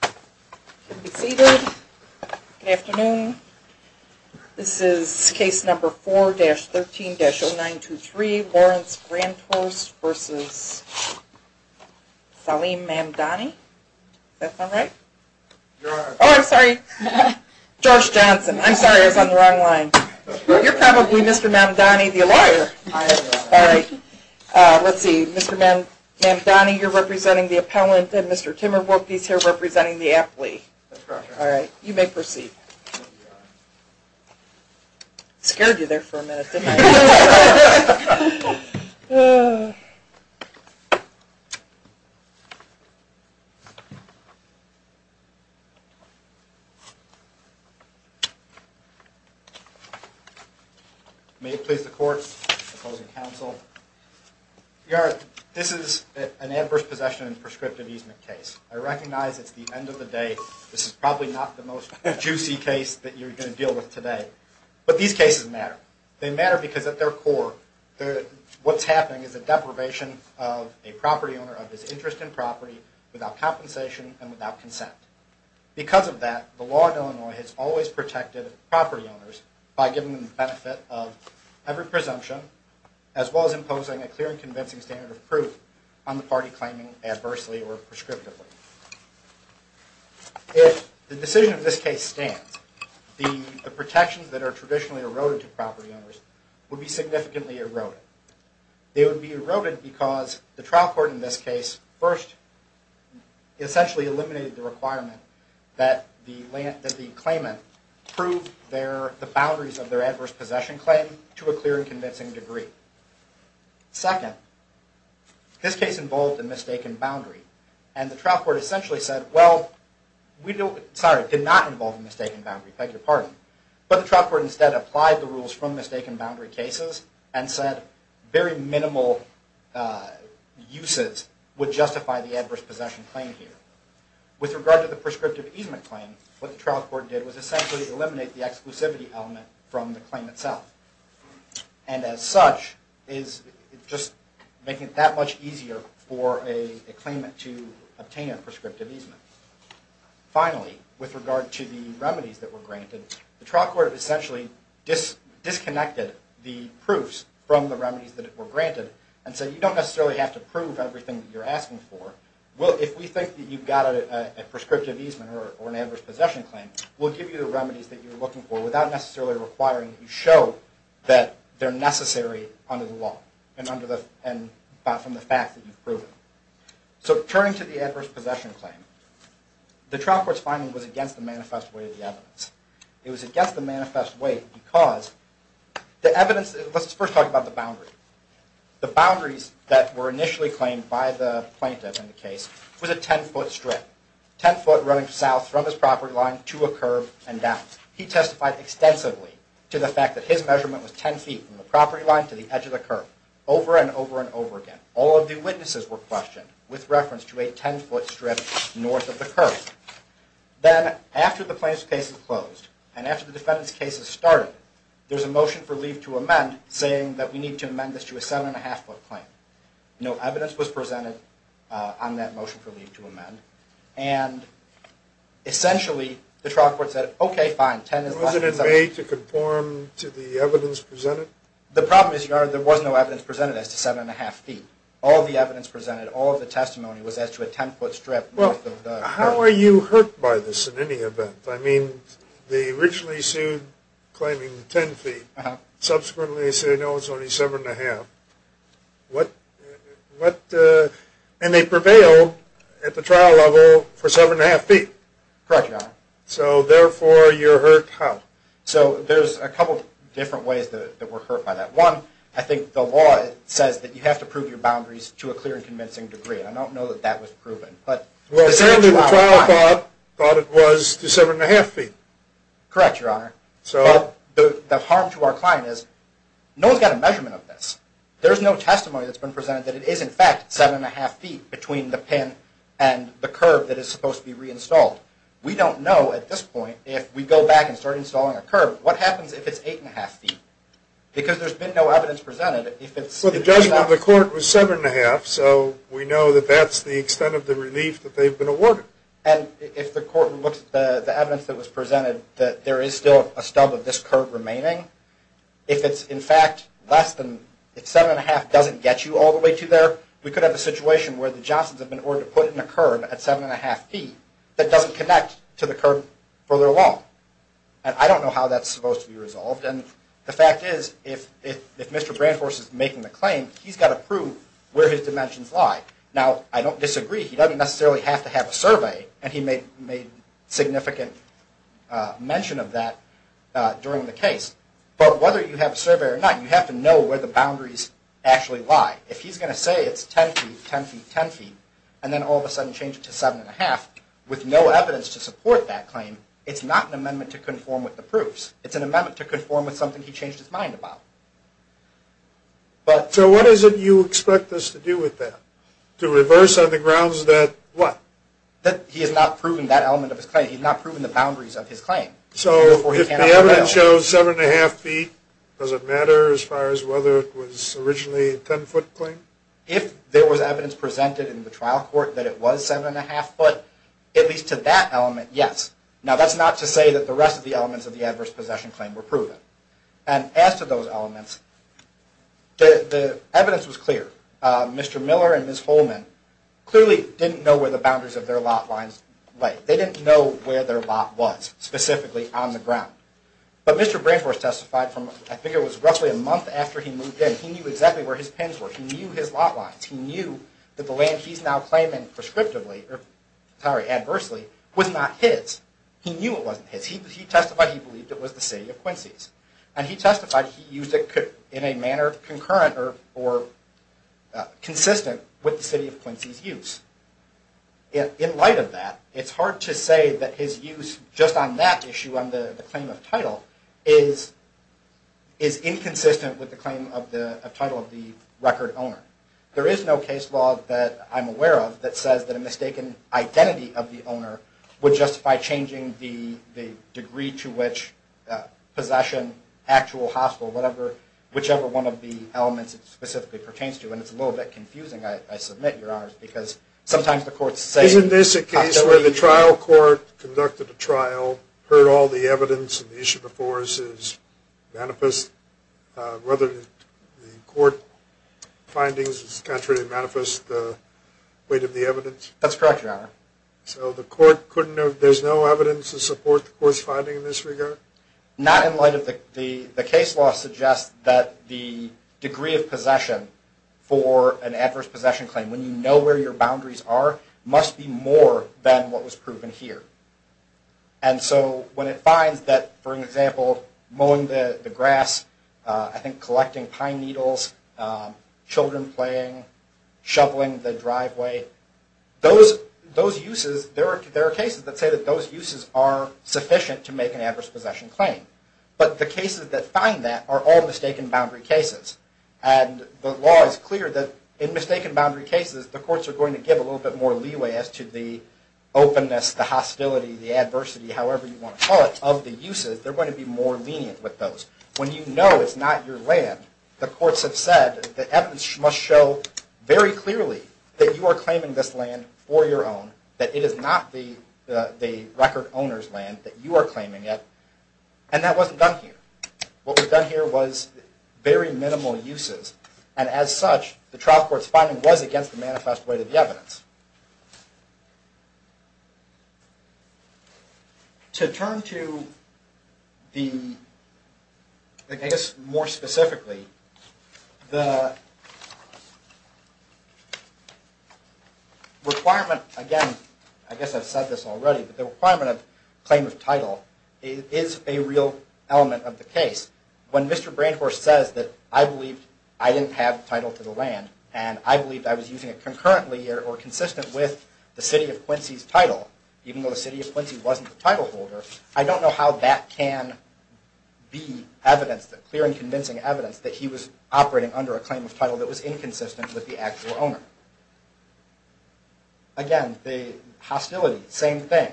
Please be seated. Good afternoon. This is case number 4-13-0923 Lawrence Granthorst v. Salim Mamdani. Oh, I'm sorry, George Johnson. I'm sorry, I was on the wrong line. You're probably Mr. Mamdani, the lawyer. All right. Let's see. Mr. Mamdani, you're representing the appellant, and Mr. Timmerwolf, he's here representing the athlete. All right. You may proceed. I scared you there for a minute, didn't I? May it please the court, opposing counsel, this is an adverse possession and prescriptive easement case. I recognize it's the end of the day. This is probably not the most juicy case that you're going to deal with today. But these cases matter. They matter because at their core, what's happening is a deprivation of a property owner of his interest in property without compensation and without consent. Because of that, the law of Illinois has always protected property owners by giving them the benefit of every presumption, as well as imposing a clear and convincing standard of proof on the party claiming adversely or prescriptively. If the decision of this case stands, the protections that are traditionally eroded to property owners would be significantly eroded. They would be eroded because the trial court in this case first essentially eliminated the requirement that the claimant prove the boundaries of their adverse possession claim to a clear and convincing degree. Second, this case involved a mistaken boundary. And the trial court essentially said, well, sorry, it did not involve a mistaken boundary, beg your pardon. But the trial court instead applied the rules from mistaken boundary cases and said very minimal uses would justify the adverse possession claim here. With regard to the prescriptive easement claim, what the trial court did was essentially eliminate the exclusivity element from the claim itself. And as such, is just making it that much easier for a claimant to obtain a prescriptive easement. Finally, with regard to the remedies that were granted, the trial court essentially disconnected the proofs from the remedies that were granted and said, you don't necessarily have to prove everything that you're asking for. Well, if we think that you've got a prescriptive easement or an adverse possession claim, we'll give you the remedies that you're looking for without necessarily requiring that you show that they're necessary under the law and from the facts that you've proven. So turning to the adverse possession claim, the trial court's finding was against the manifest weight of the evidence. It was against the manifest weight because the evidence, let's first talk about the boundary. The boundaries that were initially claimed by the plaintiff in the case was a 10-foot strip. 10-foot running south from his property line to a curb and down. He testified extensively to the fact that his measurement was 10 feet from the property line to the edge of the curb, over and over and over again. All of the witnesses were questioned with reference to a 10-foot strip north of the curb. Then after the plaintiff's case is closed and after the defendant's case is started, there's a motion for leave to amend saying that we need to amend this to a 7.5-foot claim. No evidence was presented on that motion for leave to amend. And essentially, the trial court said, okay, fine, 10 is less than 7. Wasn't it made to conform to the evidence presented? The problem is, Your Honor, there was no evidence presented as to 7.5 feet. All the evidence presented, all of the testimony was as to a 10-foot strip north of the curb. Well, how are you hurt by this in any event? I mean, they originally sued claiming 10 feet. Subsequently, they say, no, it's only 7.5. And they prevailed at the trial level for 7.5 feet. Correct, Your Honor. So therefore, you're hurt how? So there's a couple different ways that we're hurt by that. One, I think the law says that you have to prove your boundaries to a clear and convincing degree. I don't know that that was proven. Well, apparently the trial thought it was to 7.5 feet. Correct, Your Honor. The harm to our client is no one's got a measurement of this. There's no testimony that's been presented that it is, in fact, 7.5 feet between the pin and the curb that is supposed to be reinstalled. We don't know at this point if we go back and start installing a curb, what happens if it's 8.5 feet? Because there's been no evidence presented. Well, the judgment of the court was 7.5, so we know that that's the extent of the relief that they've been awarded. And if the court looks at the evidence that was presented, that there is still a stub of this curb remaining, if it's, in fact, less than, if 7.5 doesn't get you all the way to there, we could have a situation where the Johnson's have been ordered to put in a curb at 7.5 feet that doesn't connect to the curb further along. And I don't know how that's supposed to be resolved. And the fact is, if Mr. Brantworth is making the claim, he's got to prove where his dimensions lie. Now, I don't disagree. He doesn't necessarily have to have a survey, and he made significant mention of that during the case. But whether you have a survey or not, you have to know where the boundaries actually lie. If he's going to say it's 10 feet, 10 feet, 10 feet, and then all of a sudden change it to 7.5, with no evidence to support that claim, it's not an amendment to conform with the proofs. It's an amendment to conform with something he changed his mind about. So what is it you expect us to do with that? To reverse on the grounds that what? That he has not proven that element of his claim. He's not proven the boundaries of his claim. So if the evidence shows 7.5 feet, does it matter as far as whether it was originally a 10-foot claim? If there was evidence presented in the trial court that it was 7.5 foot, at least to that element, yes. Now, that's not to say that the rest of the elements of the adverse possession claim were proven. And as to those elements, the evidence was clear. Mr. Miller and Ms. Holman clearly didn't know where the boundaries of their lot lines lay. They didn't know where their lot was specifically on the ground. But Mr. Bransworth testified from, I think it was roughly a month after he moved in. He knew exactly where his pens were. He knew his lot lines. He knew that the land he's now claiming prescriptively, or sorry, adversely, was not his. He knew it wasn't his. He testified he believed it was the City of Quincy's. And he testified he used it in a manner concurrent or consistent with the City of Quincy's use. In light of that, it's hard to say that his use just on that issue, on the claim of title, is inconsistent with the claim of title of the record owner. There is no case law that I'm aware of that says that a mistaken identity of the owner would justify changing the degree to which possession, actual, hostile, whichever one of the elements it specifically pertains to. And it's a little bit confusing, I submit, Your Honors, because sometimes the courts say- Isn't this a case where the trial court conducted a trial, heard all the evidence, and the issue before us is manifest, whether the court findings is contrary to manifest weight of the evidence? That's correct, Your Honor. So the court couldn't have- there's no evidence to support the court's finding in this regard? Not in light of the- the case law suggests that the degree of possession for an adverse possession claim, when you know where your boundaries are, must be more than what was proven here. And so when it finds that, for example, mowing the grass, I think collecting pine needles, children playing, shoveling the driveway, those uses- there are cases that say that those uses are sufficient to make an adverse possession claim. But the cases that find that are all mistaken boundary cases. And the law is clear that in mistaken boundary cases, the courts are going to give a little bit more leeway as to the openness, the hostility, the adversity, however you want to call it, of the uses. They're going to be more lenient with those. When you know it's not your land, the courts have said that evidence must show very clearly that you are claiming this land for your own, that it is not the record owner's land, that you are claiming it. And that wasn't done here. What was done here was very minimal uses. And as such, the trial court's finding was against the manifest weight of the evidence. To turn to the case more specifically, the requirement, again, I guess I've said this already, but the requirement of claim of title is a real element of the case. When Mr. Brandhorst says that I believed I didn't have title to the land and I believed I was using it concurrently or consistently, or inconsistent with the city of Quincy's title, even though the city of Quincy wasn't the title holder, I don't know how that can be evidence, clear and convincing evidence, that he was operating under a claim of title that was inconsistent with the actual owner. Again, the hostility, same thing.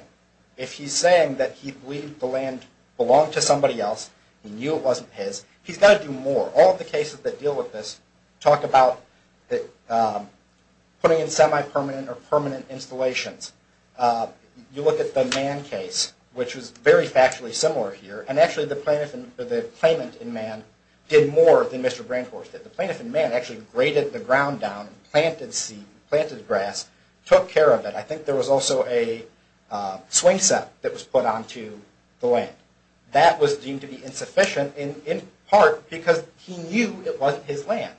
If he's saying that he believed the land belonged to somebody else, he knew it wasn't his, he's got to do more. All the cases that deal with this talk about putting in semi-permanent or permanent installations. You look at the Mann case, which is very factually similar here, and actually the claimant in Mann did more than Mr. Brandhorst did. The plaintiff in Mann actually graded the ground down, planted seed, planted grass, took care of it. I think there was also a swing set that was put onto the land. That was deemed to be insufficient in part because he knew it wasn't his land.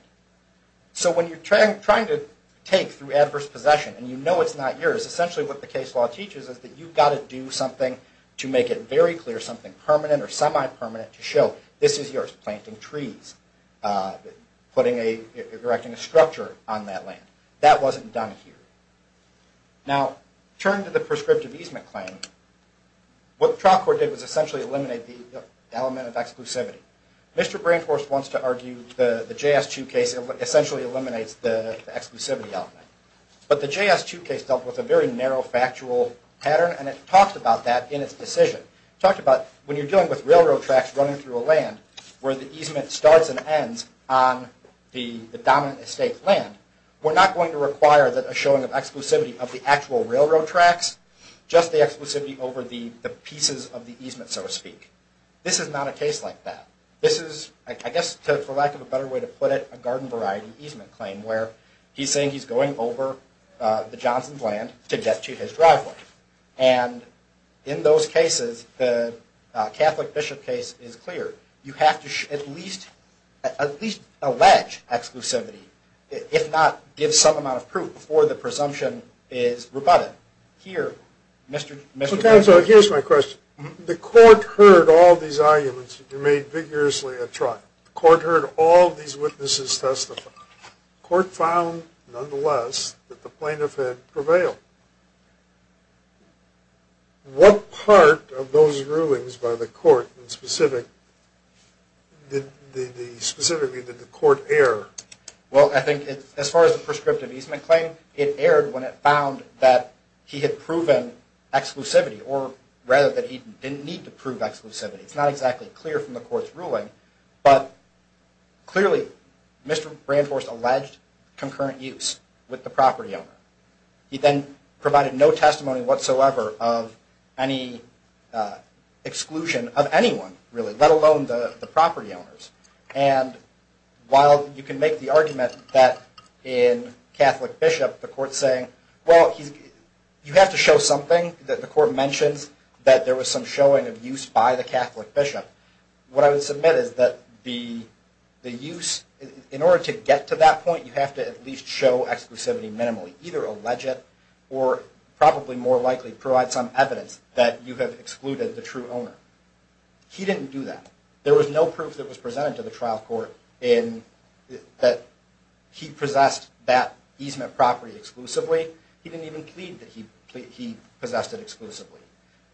So when you're trying to take through adverse possession and you know it's not yours, essentially what the case law teaches is that you've got to do something to make it very clear, something permanent or semi-permanent to show this is yours. Planting trees, erecting a structure on that land. That wasn't done here. Now, turn to the prescriptive easement claim. What trial court did was essentially eliminate the element of exclusivity. Mr. Brandhorst wants to argue the JS2 case essentially eliminates the exclusivity element. But the JS2 case dealt with a very narrow factual pattern and it talked about that in its decision. It talked about when you're dealing with railroad tracks running through a land where the easement starts and ends on the dominant estate land, we're not going to require a showing of exclusivity of the actual railroad tracks, just the exclusivity over the pieces of the easement, so to speak. This is not a case like that. This is, I guess for lack of a better way to put it, a garden variety easement claim where he's saying he's going over the Johnson's land to get to his driveway. And in those cases, the Catholic Bishop case is clear. You have to at least allege exclusivity, if not give some amount of proof before the presumption is rebutted. Here, Mr. Brandhorst. Okay, so here's my question. The court heard all these arguments that you made vigorously at trial. The court heard all these witnesses testify. The court found, nonetheless, that the plaintiff had prevailed. What part of those rulings by the court in specific did the court err? Well, I think as far as the prescriptive easement claim, it erred when it found that he had proven exclusivity, or rather that he didn't need to prove exclusivity. It's not exactly clear from the court's ruling, but clearly Mr. Brandhorst alleged concurrent use with the property owner. He then provided no testimony whatsoever of any exclusion of anyone, really, let alone the property owners. And while you can make the argument that in Catholic Bishop, the court's saying, well, you have to show something. The court mentions that there was some showing of use by the Catholic Bishop. What I would submit is that the use, in order to get to that point, you have to at least show exclusivity minimally, either allege it or probably more likely provide some evidence that you have excluded the true owner. He didn't do that. There was no proof that was presented to the trial court that he possessed that easement property exclusively. He didn't even plead that he possessed it exclusively.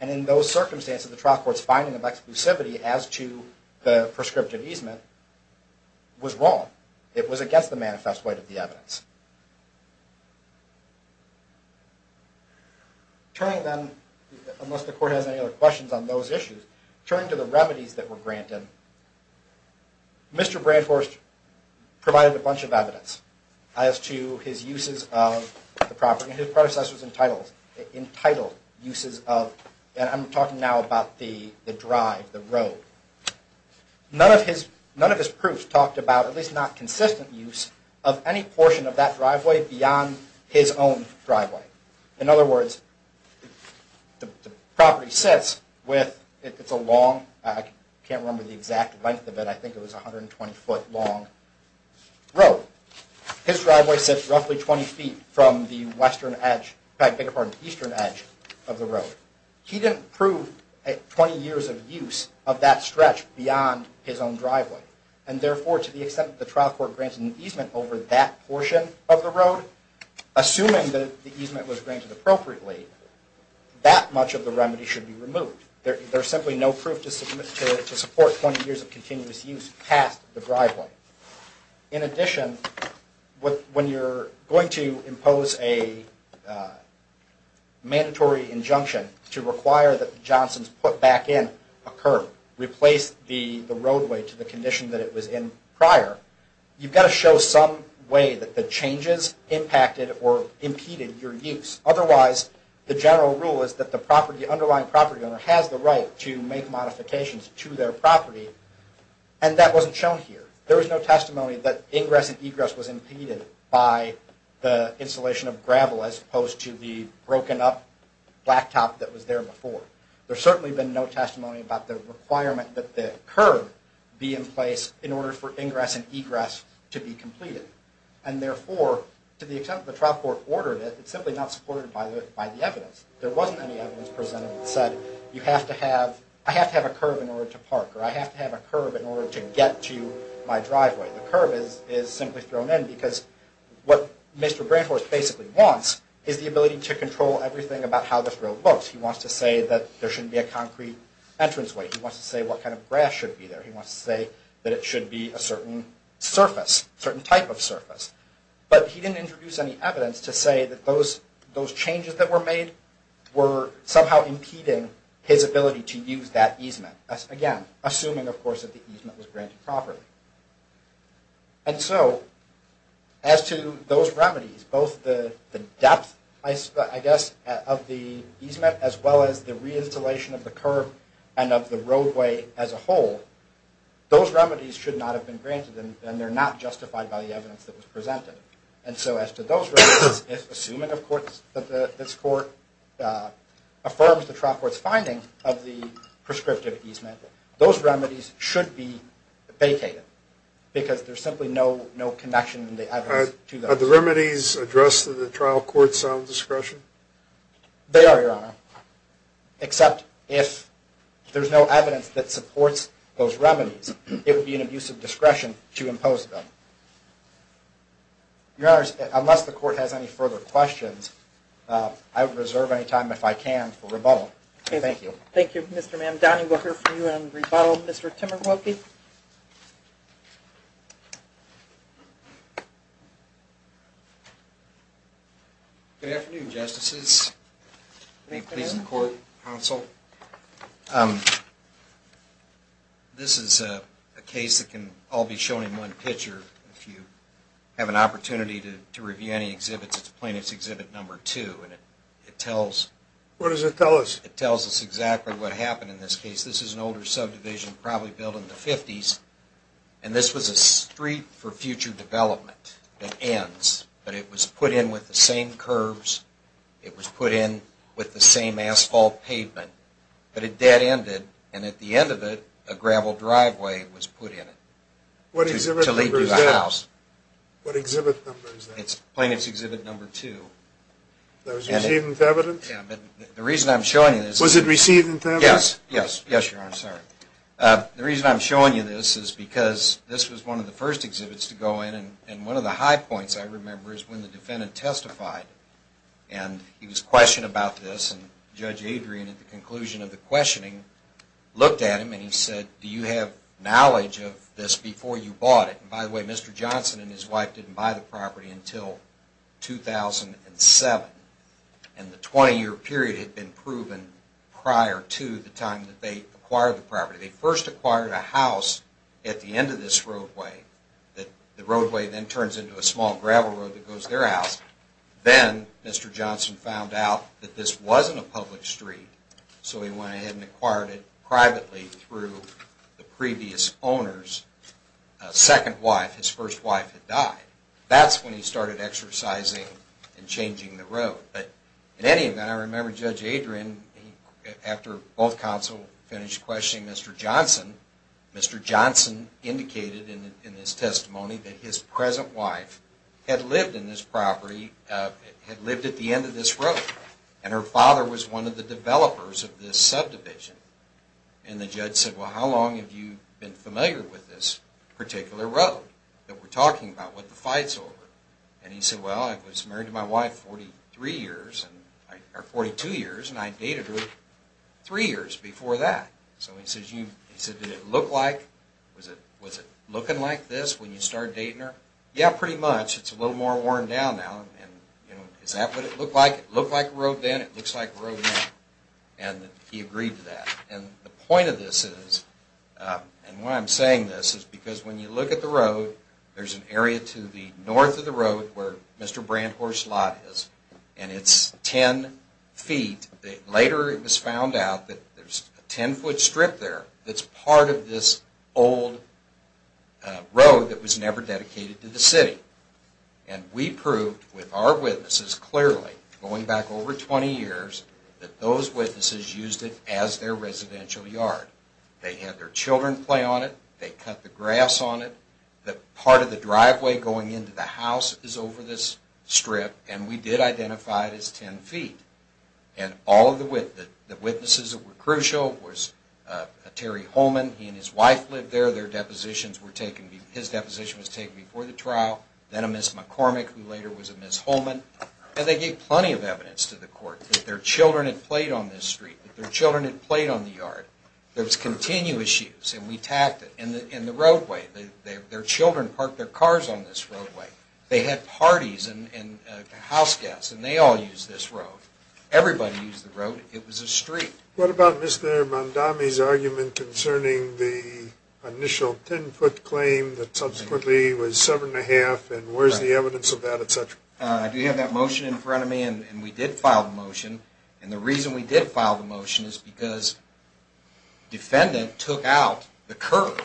And in those circumstances, the trial court's finding of exclusivity as to the prescriptive easement was wrong. It was against the manifest weight of the evidence. Turning then, unless the court has any other questions on those issues, turning to the remedies that were granted, Mr. Brandhorst provided a bunch of evidence as to his uses of the property. His predecessors entitled uses of, and I'm talking now about the drive, the road. None of his proofs talked about, at least not consistent use, of any portion of that driveway beyond his own driveway. In other words, the property sits with, it's a long, I can't remember the exact length of it, I think it was 120 foot long road. His driveway sits roughly 20 feet from the eastern edge of the road. He didn't prove 20 years of use of that stretch beyond his own driveway. And therefore, to the extent that the trial court granted an easement over that portion of the road, assuming that the easement was granted appropriately, that much of the remedy should be removed. There's simply no proof to support 20 years of continuous use past the driveway. In addition, when you're going to impose a mandatory injunction to require that the Johnsons put back in a curb, replace the roadway to the condition that it was in prior, you've got to show some way that the changes impacted or impeded your use. Otherwise, the general rule is that the underlying property owner has the right to make modifications to their property, and that wasn't shown here. There was no testimony that ingress and egress was impeded by the installation of gravel as opposed to the broken up blacktop that was there before. There's certainly been no testimony about the requirement that the curb be in place in order for ingress and egress to be completed. And therefore, to the extent that the trial court ordered it, it's simply not supported by the evidence. There wasn't any evidence presented that said, I have to have a curb in order to park, or I have to have a curb in order to get to my driveway. The curb is simply thrown in because what Mr. Brandhorst basically wants is the ability to control everything about how this road looks. He wants to say that there shouldn't be a concrete entranceway. He wants to say what kind of grass should be there. He wants to say that it should be a certain surface, a certain type of surface. But he didn't introduce any evidence to say that those changes that were made were somehow impeding his ability to use that easement. Again, assuming, of course, that the easement was granted properly. And so, as to those remedies, both the depth, I guess, of the easement, as well as the re-installation of the curb and of the roadway as a whole, those remedies should not have been granted and they're not justified by the evidence that was presented. And so, as to those remedies, assuming, of course, that this court affirms the trial court's finding of the prescriptive easement, those remedies should be vacated because there's simply no connection in the evidence to those. Are the remedies addressed to the trial court's discretion? They are, Your Honor. Except if there's no evidence that supports those remedies, it would be an abuse of discretion to impose them. Your Honors, unless the court has any further questions, I would reserve any time, if I can, for rebuttal. Thank you. Thank you, Mr. Mamdani. We'll hear from you in rebuttal. Mr. Timurvoki? Good afternoon, Justices. May it please the Court, Counsel. This is a case that can all be shown in one picture. If you have an opportunity to review any exhibits, it's Plaintiff's Exhibit No. 2 and it tells... What does it tell us? It tells us exactly what happened in this case. This is an older subdivision, probably built in the 15th century. And this was a street for future development. It ends. But it was put in with the same curves. It was put in with the same asphalt pavement. But it dead ended. And at the end of it, a gravel driveway was put in it. What exhibit number is that? To lead to the house. What exhibit number is that? It's Plaintiff's Exhibit No. 2. Was it received in evidence? Yeah, but the reason I'm showing you this... Was it received in evidence? Yes. Yes, Your Honor. Sorry. The reason I'm showing you this is because this was one of the first exhibits to go in and one of the high points, I remember, is when the defendant testified. And he was questioned about this and Judge Adrian, at the conclusion of the questioning, looked at him and he said, Do you have knowledge of this before you bought it? And by the way, Mr. Johnson and his wife didn't buy the property until 2007. And the 20-year period had been proven prior to the time that they acquired the property. They first acquired a house at the end of this roadway. The roadway then turns into a small gravel road that goes to their house. Then, Mr. Johnson found out that this wasn't a public street, so he went ahead and acquired it privately through the previous owner's second wife. His first wife had died. That's when he started exercising and changing the road. But in any event, I remember Judge Adrian, after both counsel finished questioning Mr. Johnson, Mr. Johnson indicated in his testimony that his present wife had lived in this property, had lived at the end of this road. And her father was one of the developers of this subdivision. And the judge said, Well, how long have you been familiar with this particular road that we're talking about, what the fight's over? And he said, Well, I was married to my wife 42 years, and I dated her three years before that. So he said, Did it look like, was it looking like this when you started dating her? Yeah, pretty much. It's a little more worn down now. Is that what it looked like? It looked like a road then, it looks like a road now. And he agreed to that. And the point of this is, and why I'm saying this, is because when you look at the road, there's an area to the north of the road where Mr. Brandhorst's lot is, and it's 10 feet. Later it was found out that there's a 10-foot strip there that's part of this old road that was never dedicated to the city. And we proved with our witnesses, clearly, going back over 20 years, that those witnesses used it as their residential yard. They had their children play on it. They cut the grass on it. Part of the driveway going into the house is over this strip, and we did identify it as 10 feet. And all of the witnesses that were crucial was Terry Holman. He and his wife lived there. Their depositions were taken. His deposition was taken before the trial. Then a Miss McCormick, who later was a Miss Holman. And they gave plenty of evidence to the court that their children had played on this street, that their children had played on the yard. There was continuous use, and we tacked it. And the roadway, their children parked their cars on this roadway. They had parties and house guests, and they all used this road. Everybody used the road. It was a street. What about Mr. Mondami's argument concerning the initial 10-foot claim that subsequently was 7 1⁄2, and where's the evidence of that, et cetera? I do have that motion in front of me, and we did file the motion. And the reason we did file the motion is because defendant took out the curb,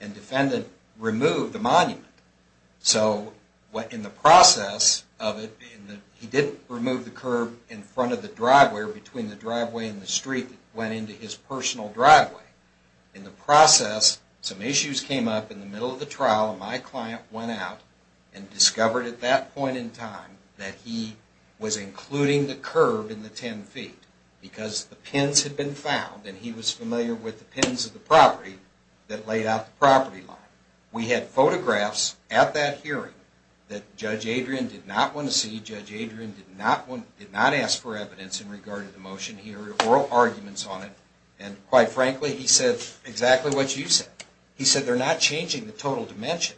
and defendant removed the monument. So in the process of it, he did remove the curb in front of the driveway or between the driveway and the street that went into his personal driveway. In the process, some issues came up in the middle of the trial, and my client went out and discovered at that point in time that he was including the curb in the 10 feet because the pins had been found, and he was familiar with the pins of the property that laid out the property line. We had photographs at that hearing that Judge Adrian did not want to see. Judge Adrian did not ask for evidence in regard to the motion. He heard oral arguments on it, and quite frankly, he said exactly what you said. He said they're not changing the total dimension.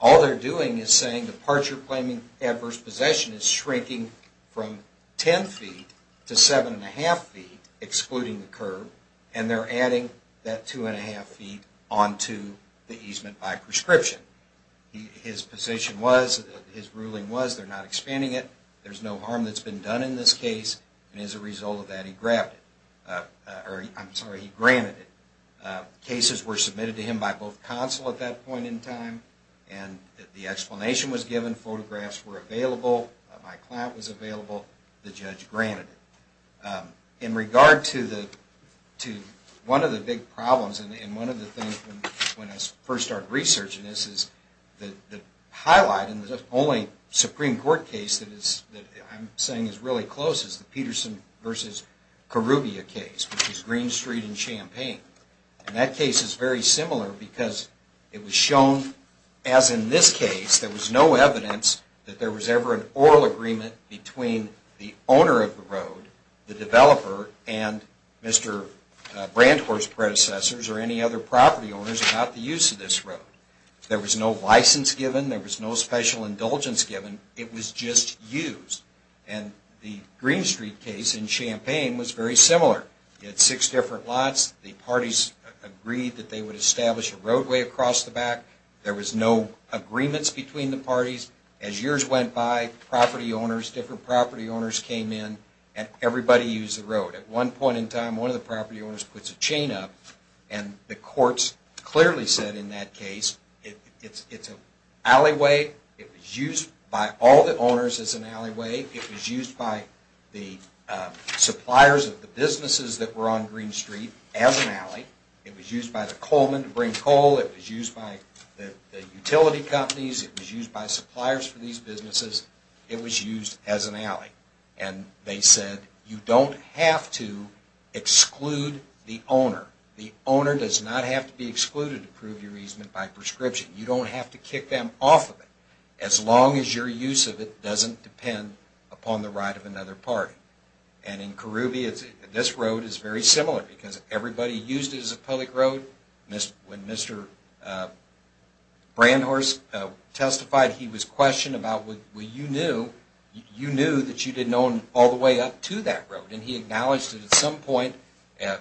All they're doing is saying departure claiming adverse possession is shrinking from 10 feet to 7 1⁄2 feet, excluding the curb, and they're adding that 2 1⁄2 feet onto the easement by prescription. His ruling was they're not expanding it, there's no harm that's been done in this case, and as a result of that, he granted it. Cases were submitted to him by both counsel at that point in time, and the explanation was given, photographs were available, my client was available, the judge granted it. In regard to one of the big problems and one of the things when I first started researching this is the highlight in the only Supreme Court case that I'm saying is really close is the Peterson v. Karubia case, which is Green Street in Champaign. And that case is very similar because it was shown, as in this case, there was no evidence that there was ever an oral agreement between the owner of the road, the developer, and Mr. Brandhorst's predecessors or any other property owners about the use of this road. There was no license given, there was no special indulgence given, it was just used. And the Green Street case in Champaign was very similar. It had six different lots, the parties agreed that they would establish a roadway across the back, there was no agreements between the parties. As years went by, property owners, different property owners came in, and everybody used the road. At one point in time, one of the property owners puts a chain up, and the courts clearly said in that case it's an alleyway, it was used by all the owners as an alleyway, it was used by the suppliers of the businesses that were on Green Street as an alley, it was used by the coalmen to bring coal, it was used by the utility companies, it was used by suppliers for these businesses, it was used as an alley. And they said you don't have to exclude the owner. The owner does not have to be excluded to prove your easement by prescription. You don't have to kick them off of it, as long as your use of it doesn't depend upon the right of another party. And in Corrubia, this road is very similar because everybody used it as a public road. When Mr. Brandhorst testified, he was questioned about, well, you knew that you didn't know all the way up to that road, and he acknowledged it at some point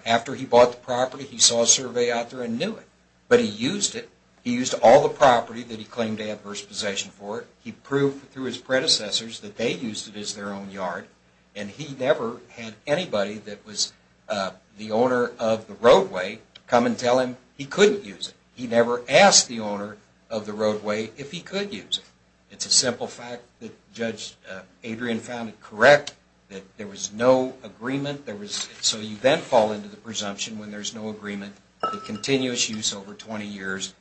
after he bought the property, he saw a survey out there and knew it. But he used it, he used all the property that he claimed to have first possession for, he proved through his predecessors that they used it as their own yard, and he never had anybody that was the owner of the roadway come and tell him he couldn't use it. He never asked the owner of the roadway if he could use it. It's a simple fact that Judge Adrian found it correct that there was no agreement, so you then fall into the presumption when there's no agreement, the continuous use over 20 years,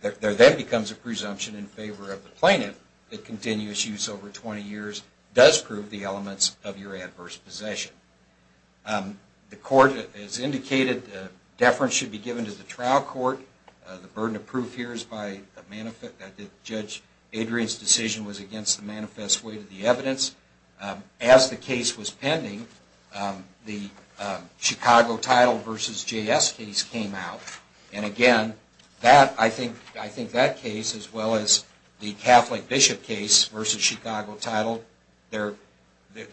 there then becomes a presumption in favor of the plaintiff that continuous use over 20 years does prove the elements of your adverse possession. The court has indicated that deference should be given to the trial court. The burden of proof here is by the benefit that Judge Adrian's decision was against the manifest weight of the evidence. As the case was pending, the Chicago Title v. JS case came out, and again, I think that case as well as the Catholic Bishop case v. Chicago Title, there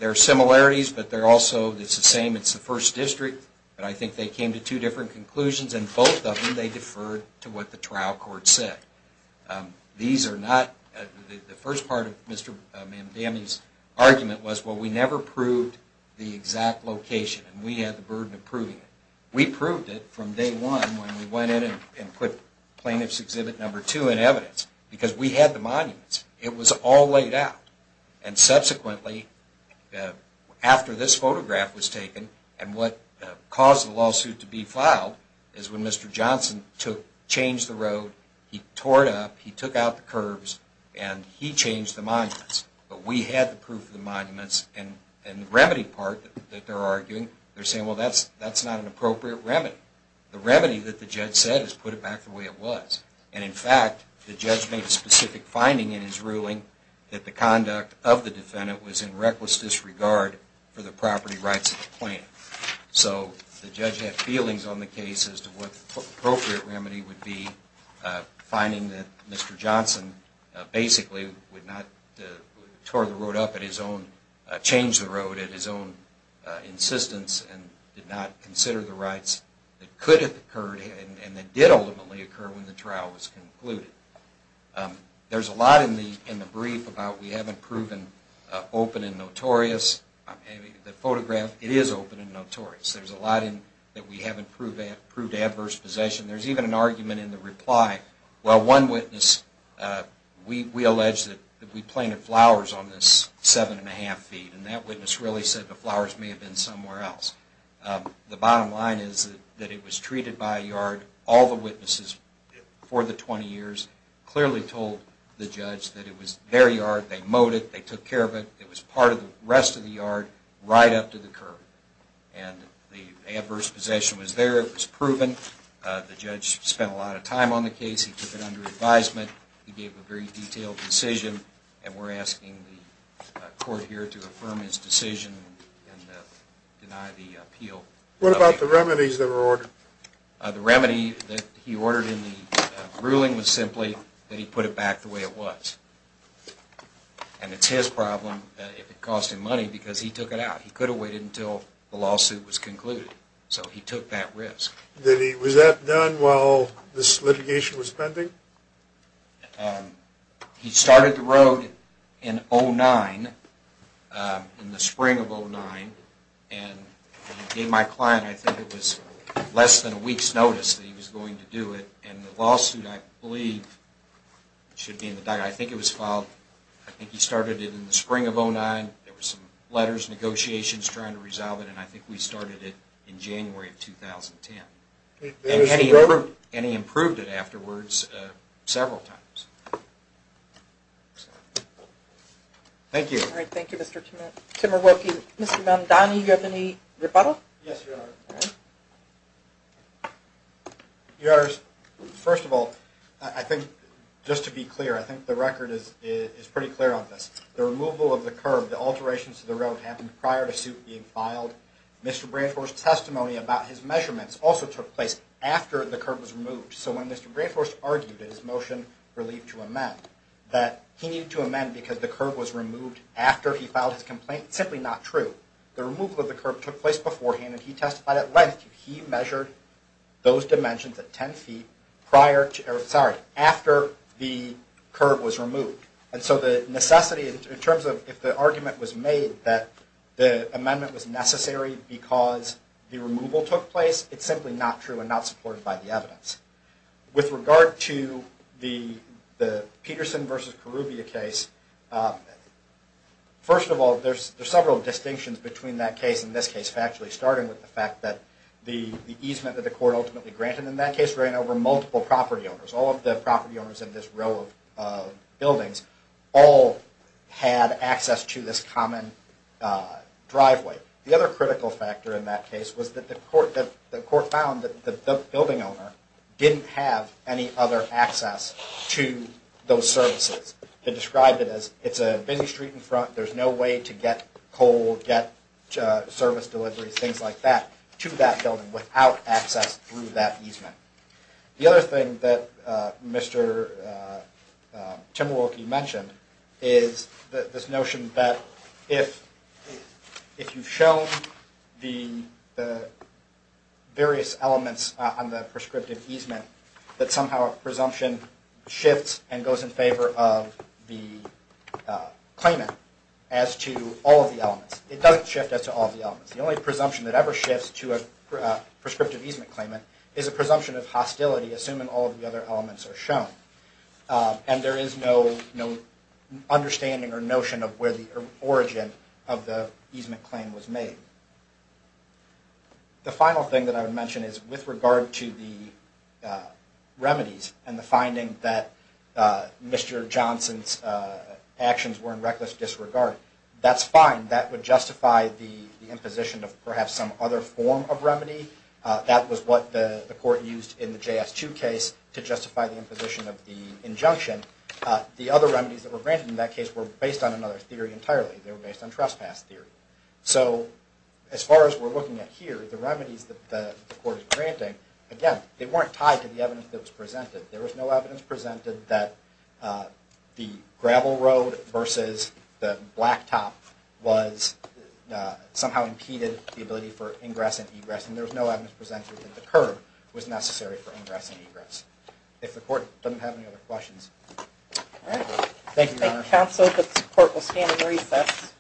are similarities, but they're also the same, it's the first district, but I think they came to two different conclusions, and both of them they deferred to what the trial court said. The first part of Mr. Mamdani's argument was, well, we never proved the exact location, and we had the burden of proving it. We proved it from day one when we went in and put Plaintiff's Exhibit No. 2 in evidence, because we had the monuments. It was all laid out, and subsequently, after this photograph was taken, and what caused the lawsuit to be filed is when Mr. Johnson changed the road, he tore it up, he took out the curbs, and he changed the monuments. But we had the proof of the monuments, and the remedy part that they're arguing, they're saying, well, that's not an appropriate remedy. The remedy that the judge said is put it back the way it was, and in fact, the judge made a specific finding in his ruling that the conduct of the defendant was in reckless disregard for the property rights of the plaintiff. So the judge had feelings on the case as to what the appropriate remedy would be, finding that Mr. Johnson basically would not change the road at his own insistence and did not consider the rights that could have occurred and that did ultimately occur when the trial was concluded. There's a lot in the brief about we haven't proven open and notorious. The photograph, it is open and notorious. There's a lot in that we haven't proved adverse possession. There's even an argument in the reply. Well, one witness, we allege that we planted flowers on this seven and a half feet, and that witness really said the flowers may have been somewhere else. The bottom line is that it was treated by a yard. All the witnesses for the 20 years clearly told the judge that it was their yard. They mowed it. They took care of it. It was part of the rest of the yard right up to the curb, and the adverse possession was there. It was proven. The judge spent a lot of time on the case. He took it under advisement. He gave a very detailed decision, and we're asking the court here to affirm his decision and deny the appeal. What about the remedies that were ordered? The remedy that he ordered in the ruling was simply that he put it back the way it was, and it's his problem if it cost him money because he took it out. He could have waited until the lawsuit was concluded, so he took that risk. Was that done while this litigation was pending? He started the road in 2009, in the spring of 2009, and he gave my client I think it was less than a week's notice that he was going to do it, and the lawsuit I believe should be in the diary. I think it was filed. I think he started it in the spring of 2009. There were some letters, negotiations trying to resolve it, and I think we started it in January of 2010, and he improved it afterwards several times. Thank you. All right. Thank you, Mr. Timurwoki. Mr. Mondani, do you have any rebuttal? Yes, Your Honor. All right. Your Honors, first of all, I think just to be clear, I think the record is pretty clear on this. The removal of the curb, the alterations to the road happened prior to suit being filed. Mr. Brantworth's testimony about his measurements also took place after the curb was removed, so when Mr. Brantworth argued in his motion for leave to amend that he needed to amend because the curb was removed after he filed his complaint, simply not true. The removal of the curb took place beforehand, and he testified at length. He measured those dimensions at 10 feet after the curb was removed, and so the necessity in terms of if the argument was made that the amendment was necessary because the removal took place, it's simply not true and not supported by the evidence. With regard to the Peterson v. Karubia case, first of all, there's several distinctions between that case and this case factually, starting with the fact that the easement that the court ultimately granted in that case ran over multiple property owners. All of the property owners in this row of buildings all had access to this common driveway. The other critical factor in that case was that the court found that the building owner didn't have any other access to those services. They described it as it's a busy street in front. There's no way to get coal, get service delivery, things like that, to that building without access through that easement. The other thing that Mr. Timberwolke mentioned is this notion that if you've shown the various elements on the prescriptive easement, that somehow a presumption shifts and goes in favor of the claimant as to all of the elements. It doesn't shift as to all of the elements. The only presumption that ever shifts to a prescriptive easement claimant is a presumption of hostility assuming all of the other elements are shown. And there is no understanding or notion of where the origin of the easement claim was made. The final thing that I would mention is with regard to the remedies and the finding that Mr. Johnson's actions were in reckless disregard. That's fine. That would justify the imposition of perhaps some other form of remedy. That was what the court used in the JS2 case to justify the imposition of the injunction. The other remedies that were granted in that case were based on another theory entirely. They were based on trespass theory. So as far as we're looking at here, the remedies that the court is granting, again, they weren't tied to the evidence that was presented. There was no evidence presented that the gravel road versus the blacktop was somehow impeded the ability for ingress and egress. And there was no evidence presented that the curb was necessary for ingress and egress. If the court doesn't have any other questions. All right. Thank you, Your Honor. Thank you, counsel. The court will stand in recess.